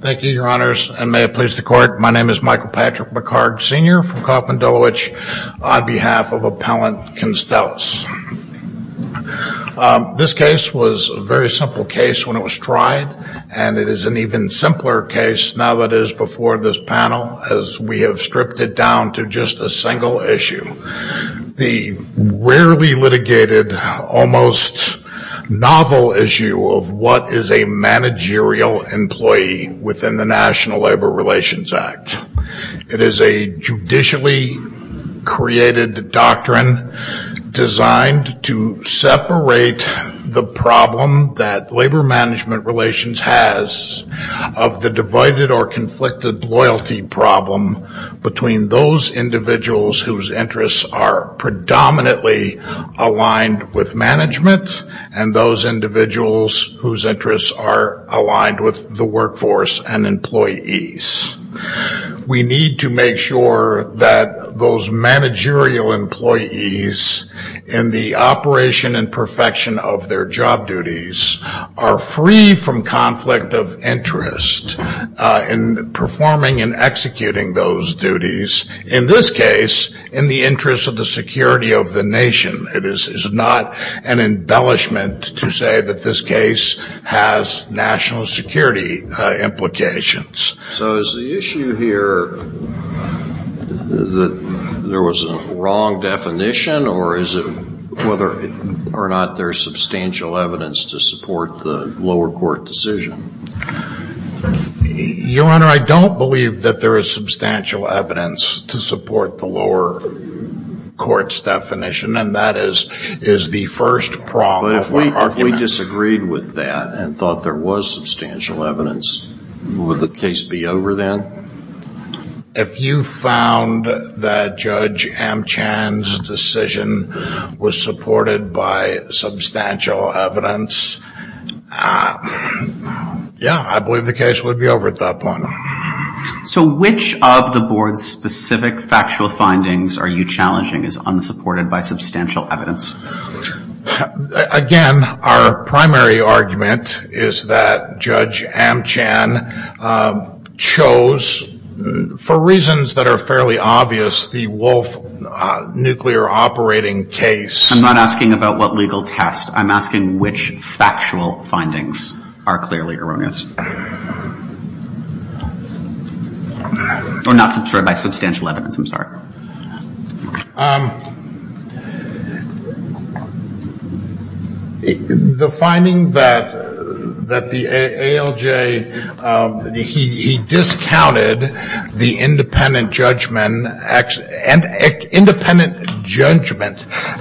Thank you, your honors, and may it please the court, my name is Michael Patrick McCarg, Sr. from Kauffman Dulwich, on behalf of Appellant Constellis. This case was a very simple case when it was tried, and it is an even simpler case now that it is before this panel, as we have stripped it down to just a single issue. The rarely managerial employee within the National Labor Relations Act. It is a judicially created doctrine designed to separate the problem that labor management relations has of the divided or conflicted loyalty problem between those individuals whose interests are predominantly aligned with management and those individuals whose interests are aligned with the workforce and employees. We need to make sure that those managerial employees in the operation and perfection of their job duties are free from conflict of interest in performing and executing those duties, in this case in the interest of the security of the nation. It is not an embellishment to say that this case has national security implications. So is the issue here that there was a wrong definition or is it whether or not there is substantial evidence to support the lower court decision? Your Honor, I don't believe that there is substantial evidence to support the lower court's definition, and that is the first problem. But if we disagreed with that and thought there was substantial evidence, would the case be over then? If you found that Judge Amchan's decision was supported by substantial evidence, yeah, I believe the case would be over at that point. So which of the board's specific factual findings are you challenging is unsupported by substantial evidence? Again, our primary argument is that Judge Amchan chose, for reasons that are fairly obvious, the Wolf nuclear operating case. I'm not asking about what legal test. I'm asking which factual findings are clearly erroneous. Or not supported by substantial evidence, I'm sorry. The finding that the ALJ, he discounted the independent judgment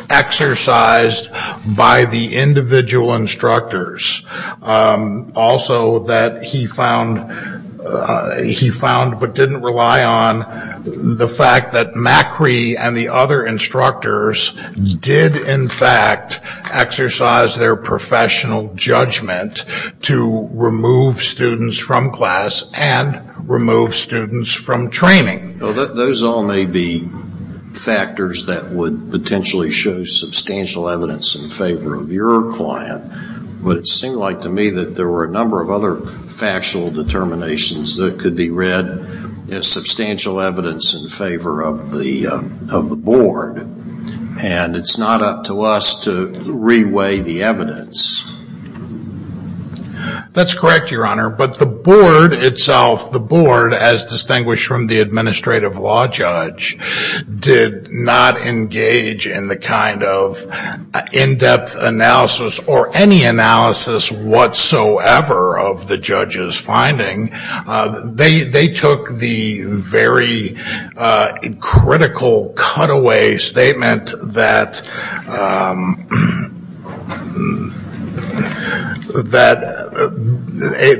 exercised by the individual instructors. Also that he found, but didn't rely on, the fact that Macri and the other instructors did in fact exercise their professional judgment to remove students from class and remove students from training. Those all may be factors that would potentially show substantial evidence in favor of your client. But it seemed like to me that there were a number of other factual determinations that could be read as substantial evidence in favor of the board. And it's not up to us to re-weigh the evidence. That's correct, Your Honor. But the board itself, the board, as distinguished from the administrative law judge, did not engage in the kind of in-depth analysis or any analysis whatsoever of the judge's finding. They took the very critical cutaway statement that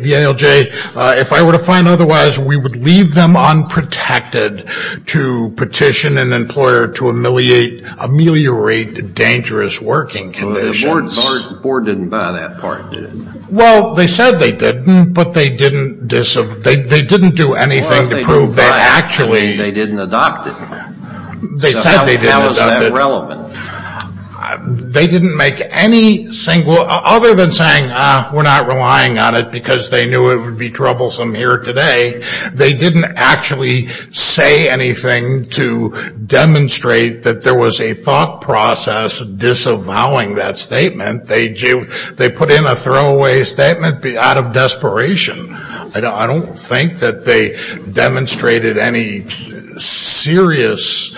the ALJ, if I were to find otherwise, we would leave them unprotected to petition an employer to ameliorate dangerous working conditions. The board didn't buy that part, did it? Well, they said they didn't, but they didn't do anything to prove they actually. They didn't adopt it. How is that relevant? Other than saying we're not relying on it because they knew it would be troublesome here today, they didn't actually say anything to demonstrate that there was a thought process disavowing that statement. They put in a throwaway statement out of desperation. I don't think that they demonstrated any serious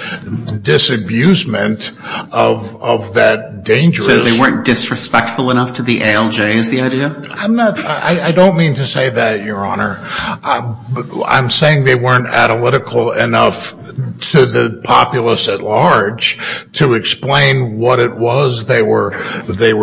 disabusement of that dangerous So they weren't disrespectful enough to the ALJ is the idea? I don't mean to say that, Your Honor. I'm saying they weren't analytical enough to the populace at large to explain what it was they were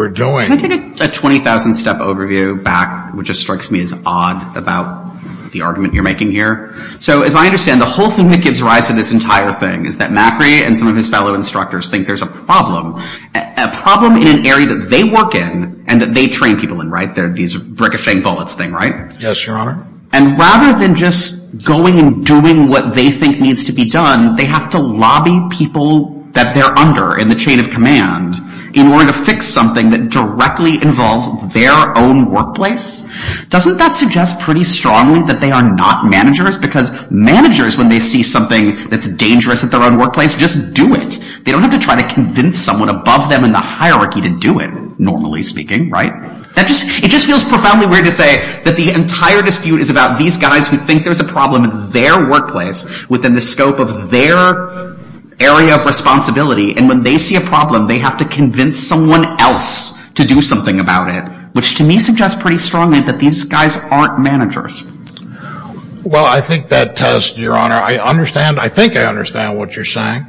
doing. Can I take a 20,000-step overview back, which just strikes me as odd about the argument you're making here? So as I understand, the whole thing that gives rise to this entire thing is that Macri and some of his fellow instructors think there's a problem, a problem in an area that they work in and that they train people in, right? These ricocheting bullets thing, right? And rather than just going and doing what they think needs to be done, they have to lobby people that they're under in the chain of command in order to fix something that directly involves their own workplace? Doesn't that suggest pretty strongly that they are not managers? Because managers, when they see something that's dangerous at their own workplace, just do it. They don't have to try to convince someone above them in the hierarchy to do it, normally speaking, right? It just feels profoundly weird to say that the entire dispute is about these guys who think there's a problem in their workplace within the scope of their area of responsibility. And when they see a problem, they have to convince someone else to do something about it, which to me suggests pretty strongly that these guys aren't managers. Well, I think that test, Your Honor, I understand, I think I understand what you're saying.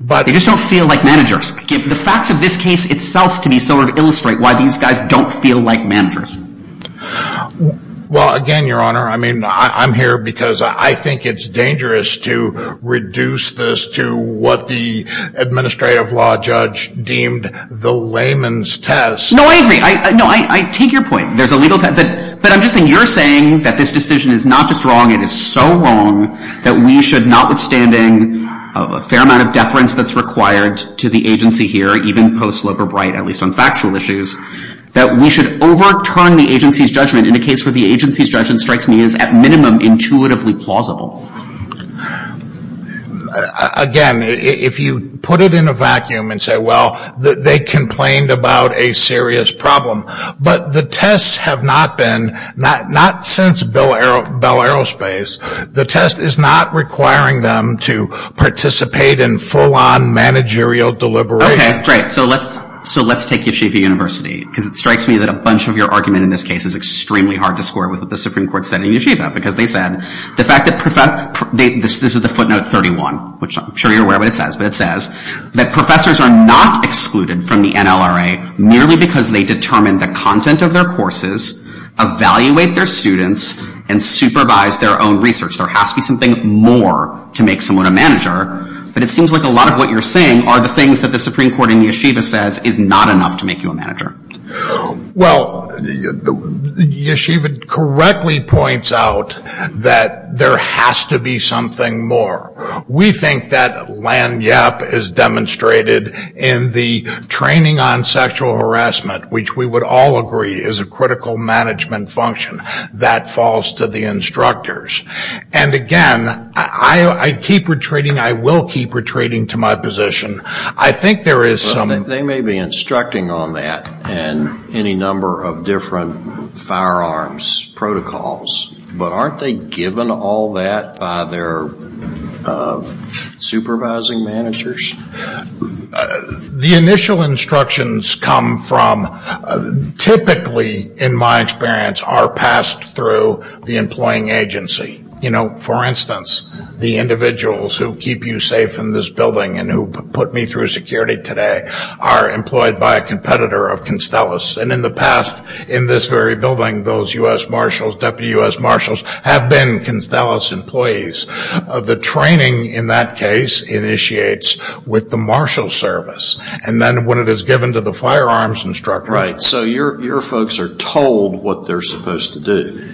They just don't feel like managers. The facts of this case itself to me sort of illustrate why these guys don't feel like managers. Well, again, Your Honor, I mean, I'm here because I think it's dangerous to reduce this to what the administrative law judge deemed the layman's test. No, I agree. No, I take your point. But I'm guessing you're saying that this decision is not just wrong, it is so wrong that we should, notwithstanding a fair amount of deference that's required to the agency here, even post-Loeb or Bright, at least on factual issues, that we should overturn the agency's judgment in a case where the agency's judgment strikes me as, at minimum, intuitively plausible. Again, if you put it in a vacuum and say, well, they complained about a serious problem, but the tests have not been, not since Bell Aerospace, the test is not requiring them to participate in full-on managerial deliberations. Okay, great. So let's take Yeshiva University, because it strikes me that a bunch of your argument in this case is extremely hard to square with what the Supreme Court said in Yeshiva, because they said, this is the footnote 31, which I'm sure you're aware of what it says, but it says that professors are not excluded from the NLRA merely because they determine the content of their courses, evaluate their students, and supervise their own research. There has to be something more to make someone a manager, but it seems like a lot of what you're saying are the things that the Supreme Court in Yeshiva says is not enough to make you a manager. Well, Yeshiva correctly points out that there has to be something more. We think that land yap is demonstrated in the training on sexual harassment, which we would all agree is a critical management function that falls to the instructors. And again, I keep retreating, I will keep retreating to my position. I think there is some... They may be instructing on that and any number of different firearms protocols, but aren't they given all that by their supervising managers? The initial instructions come from, typically in my experience, are passed through the employing agency. For instance, the individuals who keep you safe in this building and who put me through security today are employed by a competitor of Constellus. And in the past, in this very building, those U.S. Marshals, Deputy U.S. Marshals, have been Constellus employees. The training in that case initiates with the Marshal service. And then when it is given to the firearms instructor... Right, so your folks are told what they're supposed to do.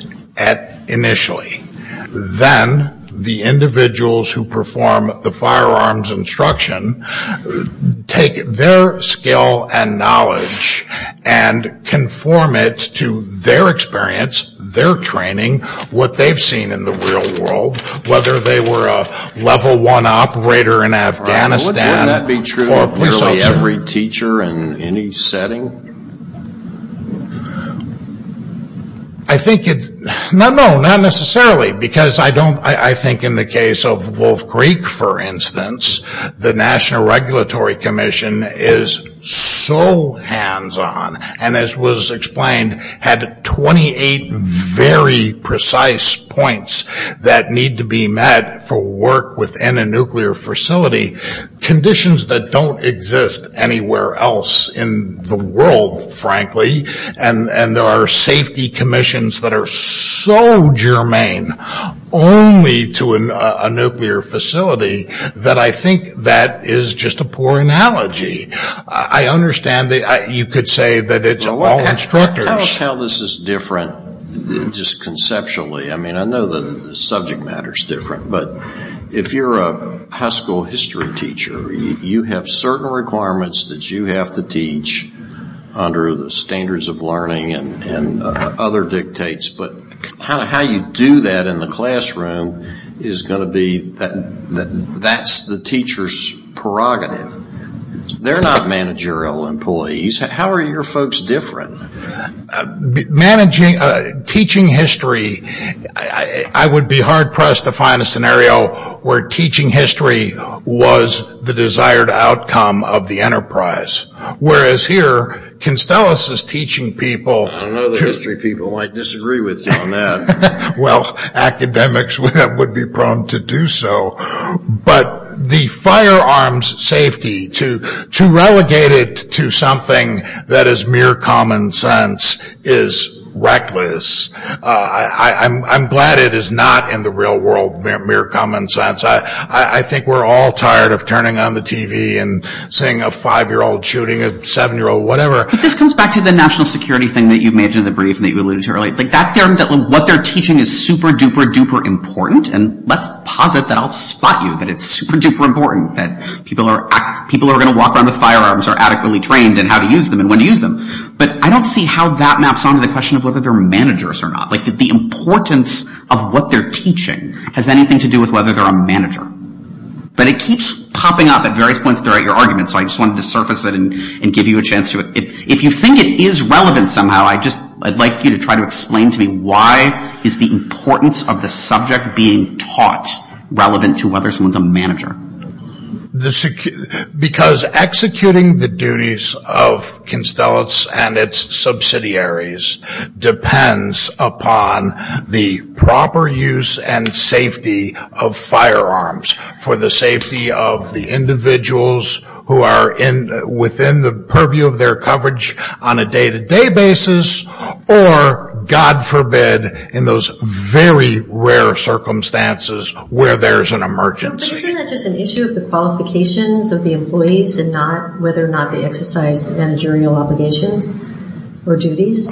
Initially. Then the individuals who perform the firearms instruction take their skill and knowledge and conform it to their experience, their training, what they've seen in the real world. Whether they were a level one operator in Afghanistan... Wouldn't that be true of nearly every teacher in any setting? No, not necessarily. Because I think in the case of Wolf Creek, for instance, the National Regulatory Commission is so hands on. And as was explained, had 28 very precise points that need to be met for work within a nuclear facility. Conditions that don't exist anywhere else in the world, frankly. And there are safety commissions that are so germane only to a nuclear facility that I think that is just a poor analogy. I understand that you could say that it's all instructors... Tell us how this is different just conceptually. I mean, I know the subject matter is different, but if you're a high school history teacher, you have certain requirements that you have to teach under the standards of learning and other dictates. But how you do that in the classroom is going to be... That's the teacher's prerogative. They're not managerial employees. How are your folks different? Teaching history, I would be hard pressed to find a scenario where teaching history was the desired outcome of the enterprise. Whereas here, Constellas is teaching people... I don't know that history people might disagree with you on that. Well, academics would be prone to do so. But the firearms safety to relegate it to something that is mere common sense is reckless. I'm glad it is not in the real world mere common sense. I think we're all tired of turning on the TV and seeing a five-year-old shooting a seven-year-old, whatever. But this comes back to the national security thing that you mentioned in the brief that you alluded to earlier. That's what they're teaching is super duper duper important. And let's posit that I'll spot you that it's super duper important that people who are going to walk around with firearms are adequately trained and how to use them and when to use them. But I don't see how that maps on to the question of whether they're managers or not. The importance of what they're teaching has anything to do with whether they're a manager. But it keeps popping up at various points throughout your argument, so I just wanted to surface it and give you a chance to... If you think it is relevant somehow, I'd like you to try to explain to me why is the importance of the subject being taught relevant to whether someone's a manager? Because executing the duties of Constellates and its subsidiaries depends upon the proper use and safety of firearms for the safety of the individuals who are within the purview of their coverage on a day-to-day basis or, God forbid, in those very rare circumstances where there's an emergency. But isn't that just an issue of the qualifications of the employees and not whether or not they exercise managerial obligations or duties?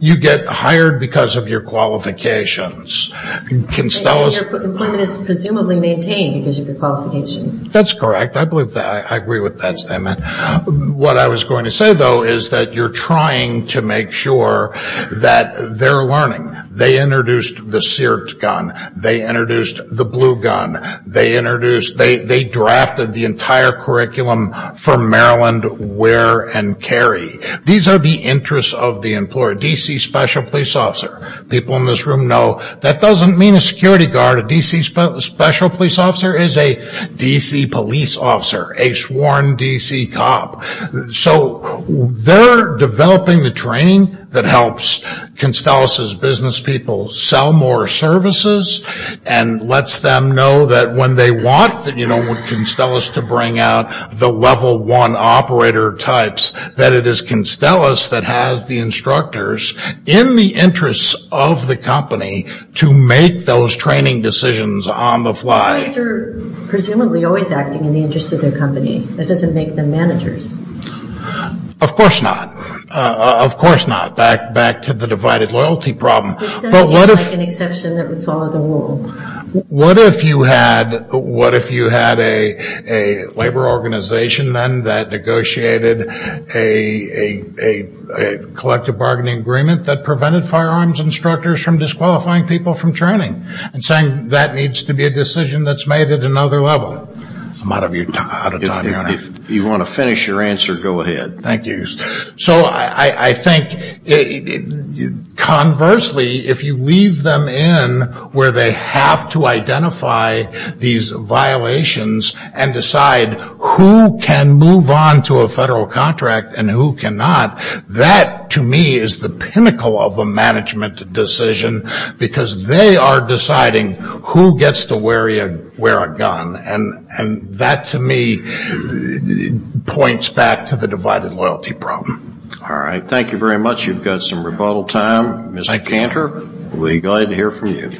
You get hired because of your qualifications. Employment is presumably maintained because of your qualifications. That's correct. I agree with that statement. What I was going to say, though, is that you're trying to make sure that they're learning. They introduced the seared gun. They introduced the blue gun. They drafted the entire curriculum for Maryland wear and carry. These are the interests of the employer. D.C. Special Police Officer. People in this room know that doesn't mean a security guard. A D.C. Special Police Officer is a D.C. police officer, a sworn D.C. cop. So they're developing the training that helps Constellates' business people sell more services and lets them know that when they want Constellates to bring out the level one operator types that it is Constellates that has the instructors in the interests of the company to make those training decisions on the fly. They're presumably always acting in the interests of their company. That doesn't make them managers. Of course not. Of course not. Back to the divided loyalty problem. This doesn't seem like an exception that would follow the rule. What if you had a labor organization then that negotiated a collective bargaining agreement that prevented firearms instructors from disqualifying people from training and saying that needs to be a decision that's made at another level? I'm out of time here. If you want to finish your answer, go ahead. Thank you. So I think conversely if you leave them in where they have to identify these violations and decide who can move on to a federal contract and who cannot, that to me is the pinnacle of a management decision because they are deciding who gets to wear a gun. And that to me points back to the divided loyalty problem. All right. Thank you very much. You've got some rebuttal time. Mr. Cantor, we'll be glad to hear from you.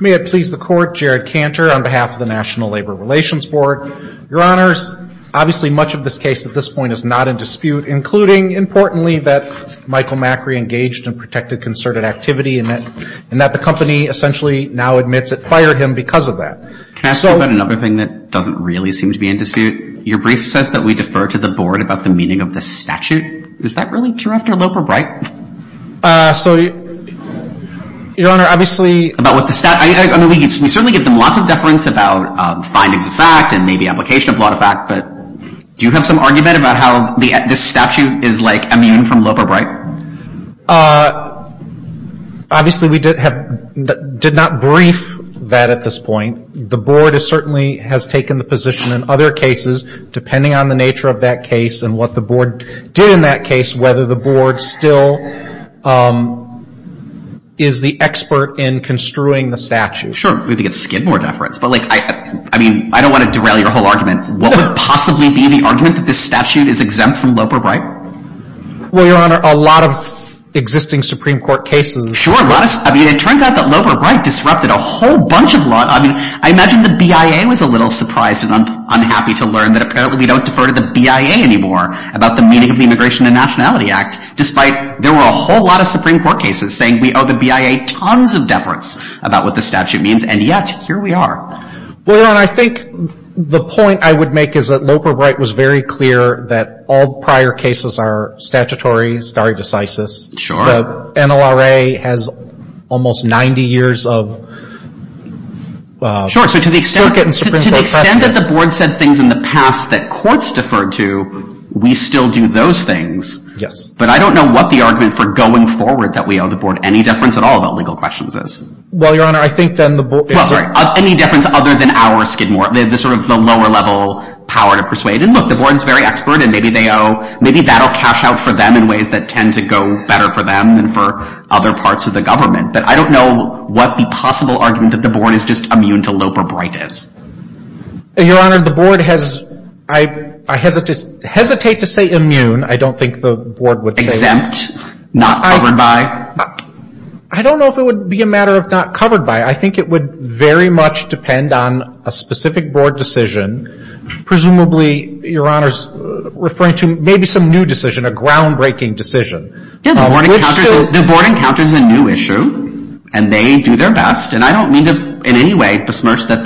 May it please the Court, Jared Cantor on behalf of the National Labor Relations Board. Your Honors, obviously much of this case at this point is not in dispute, including importantly that Michael Macri engaged in protected concerted activity and that the company essentially now admits it fired him because of that. Can I ask you about another thing that doesn't really seem to be in dispute? Your brief says that we defer to the Board about the meaning of the statute. Is that really true after Loper-Bright? Your Honor, obviously we certainly give them lots of deference about findings of fact and maybe application of law to fact, but do you have some argument about how this statute is like a meme from Loper-Bright? Obviously we did not brief that at this point. The Board certainly has taken the position in other cases, depending on the nature of that case and what the Board did in that case, whether the Board still is the expert in construing the statute. Sure. We could get skid more deference, but I don't want to derail your whole argument. What would possibly be the argument that this statute is exempt from Loper-Bright? Well, Your Honor, a lot of existing Supreme Court cases. Sure. It turns out that Loper-Bright disrupted a whole bunch of laws. I imagine the BIA was a little surprised and unhappy to learn that apparently we don't defer to the BIA anymore about the meaning of the Immigration and Nationality Act, despite there were a whole lot of Supreme Court cases saying we owe the BIA tons of deference about what the statute means, and yet here we are. Well, Your Honor, I think the point I would make is that Loper-Bright was very clear that all prior cases are statutory stare decisis. The NLRA has almost 90 years of circuit and Supreme Court precedent. Sure. So to the extent that the Board said things in the past that courts deferred to, we still do those things. Yes. But I don't know what the argument for going forward that we owe the Board any deference at all about legal questions is. Well, Your Honor, I think then the Board is... Well, sorry, any difference other than our skid more, the sort of lower level power to persuade. And look, the Board is very expert, and maybe that will cash out for them in ways that tend to go better for them than for other parts of the government. But I don't know what the possible argument that the Board is just immune to Loper-Bright is. Your Honor, the Board has, I hesitate to say immune. I don't think the Board would say... Exempt? Not covered by? I don't know if it would be a matter of not covered by. I think it would very much depend on a specific Board decision, presumably, Your Honor, as far as referring to maybe some new decision, a groundbreaking decision. Yes, the Board encounters a new issue, and they do their best. And I don't mean to in any way besmirch that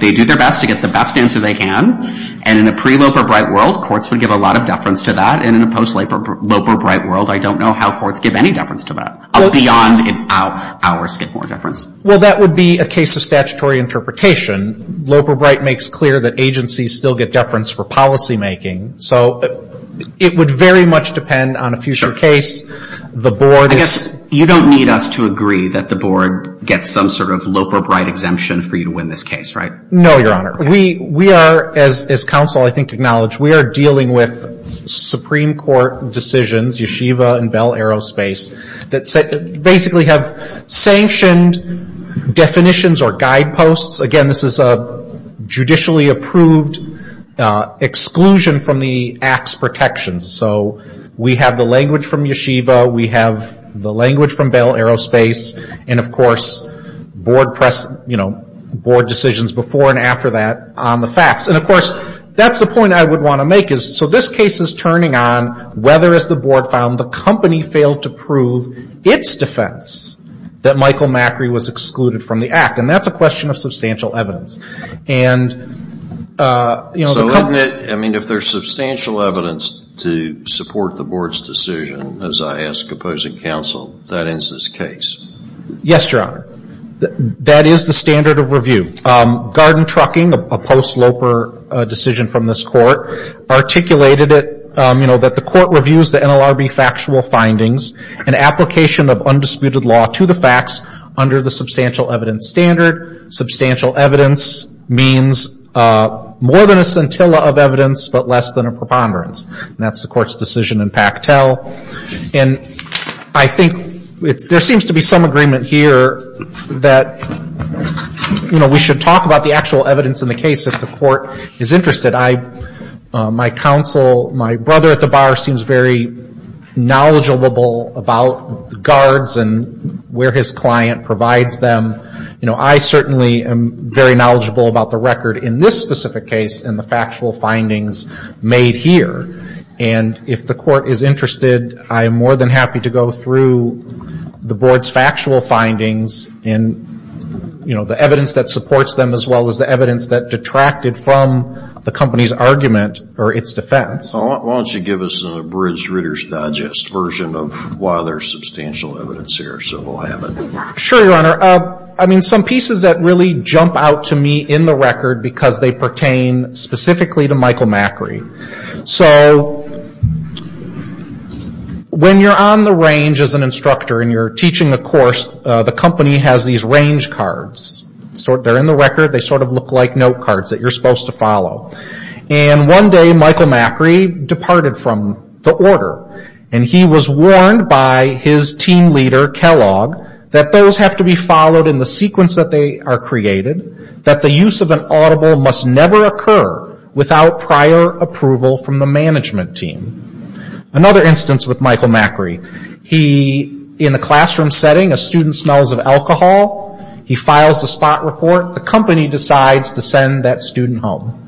they do their best to get the best answer they can. And in a pre-Loper-Bright world, courts would give a lot of deference to that. And in a post-Loper-Bright world, I don't know how courts give any deference to that, beyond our skid more deference. Well, that would be a case of statutory interpretation. Loper-Bright makes clear that agencies still get deference for policymaking. So it would very much depend on a future case. I guess you don't need us to agree that the Board gets some sort of Loper-Bright exemption for you to win this case, right? No, Your Honor. We are, as counsel I think acknowledge, we are dealing with Supreme Court decisions, yeshiva and bell aerospace, that basically have sanctioned definitions or guideposts. Again, this is a judicially approved exclusion from the acts protections. So we have the language from yeshiva, we have the language from bell aerospace, and, of course, Board decisions before and after that on the facts. And, of course, that's the point I would want to make. So this case is turning on whether, as the Board found, the company failed to prove its defense that Michael Macri was excluded from the act. And that's a question of substantial evidence. So if there's substantial evidence to support the Board's decision, as I ask opposing counsel, that ends this case. Yes, Your Honor, that is the standard of review. Garden Trucking, a post-Loper decision from this Court, articulated it, you know, that the Court reviews the NLRB factual findings and application of undisputed law to the facts under the substantial evidence standard. Substantial evidence means more than a scintilla of evidence, but less than a preponderance. And that's the Court's decision in Pactel. And I think there seems to be some agreement here that, you know, we should talk about the actual evidence in the case if the Court is interested. My counsel, my brother at the bar, seems very knowledgeable about guards and where his client provides them. You know, I certainly am very knowledgeable about the record in this specific case and the factual findings made here. And if the Court is interested, I am more than happy to go through the Board's factual findings and, you know, the evidence that supports them, as well as the evidence that detracted from the company's argument or its defense. Why don't you give us an abridged Reader's Digest version of why there's substantial evidence here, so we'll have it. Sure, Your Honor. Some pieces that really jump out to me in the record because they pertain specifically to Michael Macri. When you're on the range as an instructor and you're teaching a course, the company has these range cards. They're in the record. They sort of look like note cards that you're supposed to follow. And one day, Michael Macri departed from the order, and he was warned by his team leader, Kellogg, that those have to be followed in the sequence that they are created, that the use of an audible must never occur without prior approval from the management team. Another instance with Michael Macri. In the classroom setting, a student smells of alcohol. He files the spot report. The company decides to send that student home.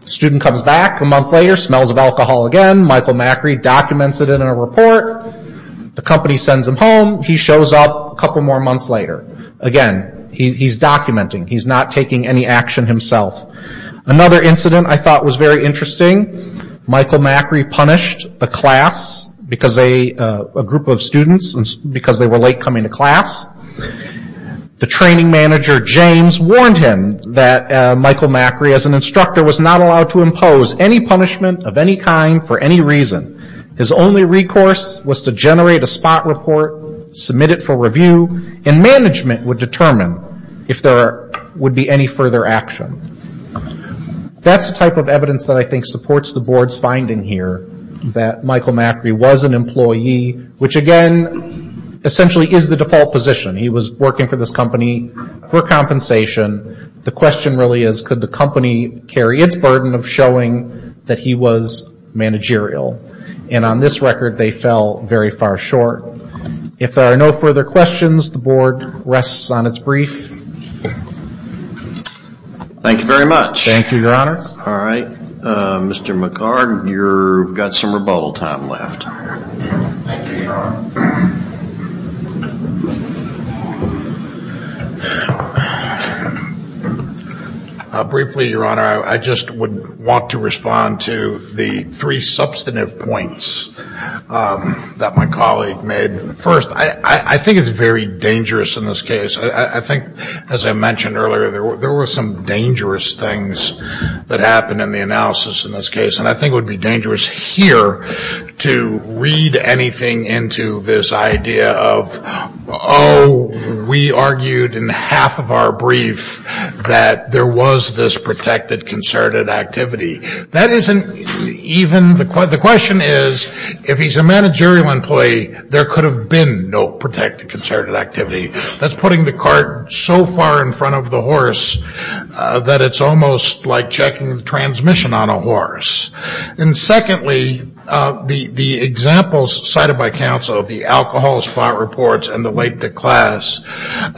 The student comes back a month later, smells of alcohol again. Michael Macri documents it in a report. The company sends him home. He shows up a couple more months later. Again, he's documenting. He's not taking any action himself. Another incident I thought was very interesting. Michael Macri punished a group of students because they were late coming to class. The training manager, James, warned him that Michael Macri, as an instructor, was not allowed to impose any punishment of any kind for any reason. His only recourse was to generate a spot report, submit it for review, and management would determine if there would be any further action. That's the type of evidence that I think supports the board's finding here that Michael Macri was an employee, which again, essentially is the default position. He was working for this company for compensation. The question really is, could the company carry its burden of showing that he was managerial? And on this record, they fell very far short. If there are no further questions, the board rests on its brief. Thank you very much. Thank you, Your Honor. All right. Mr. McCard, you've got some rebuttal time left. Thank you, Your Honor. Briefly, Your Honor, I just would want to respond to the three substantive points that my colleague made. First, I think it's very dangerous in this case. I think, as I mentioned earlier, there were some dangerous things that happened in the analysis in this case, and I think it would be dangerous here to read anything into this idea of, oh, we argued in half of our brief that there was this protected concerted activity. That isn't even the question. The question is, if he's a managerial employee, there could have been no protected concerted activity. That's putting the cart so far in front of the horse that it's almost like checking the transmission on a horse. And secondly, the examples cited by counsel, the alcohol spot reports and the late declass,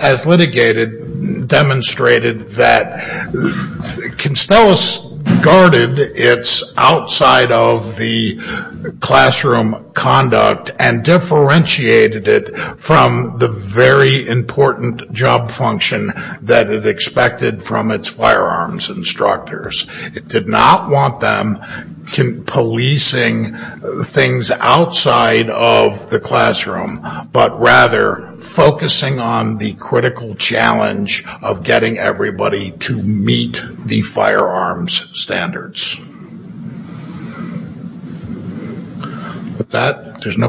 as litigated demonstrated that Constellus guarded its outside of the classroom conduct and differentiated it from the very important job function that it expected from its firearms instructors. It did not want them policing things outside of the classroom, but rather focusing on the critical challenge of getting everybody to meet the firearms standards. With that, there's no questions.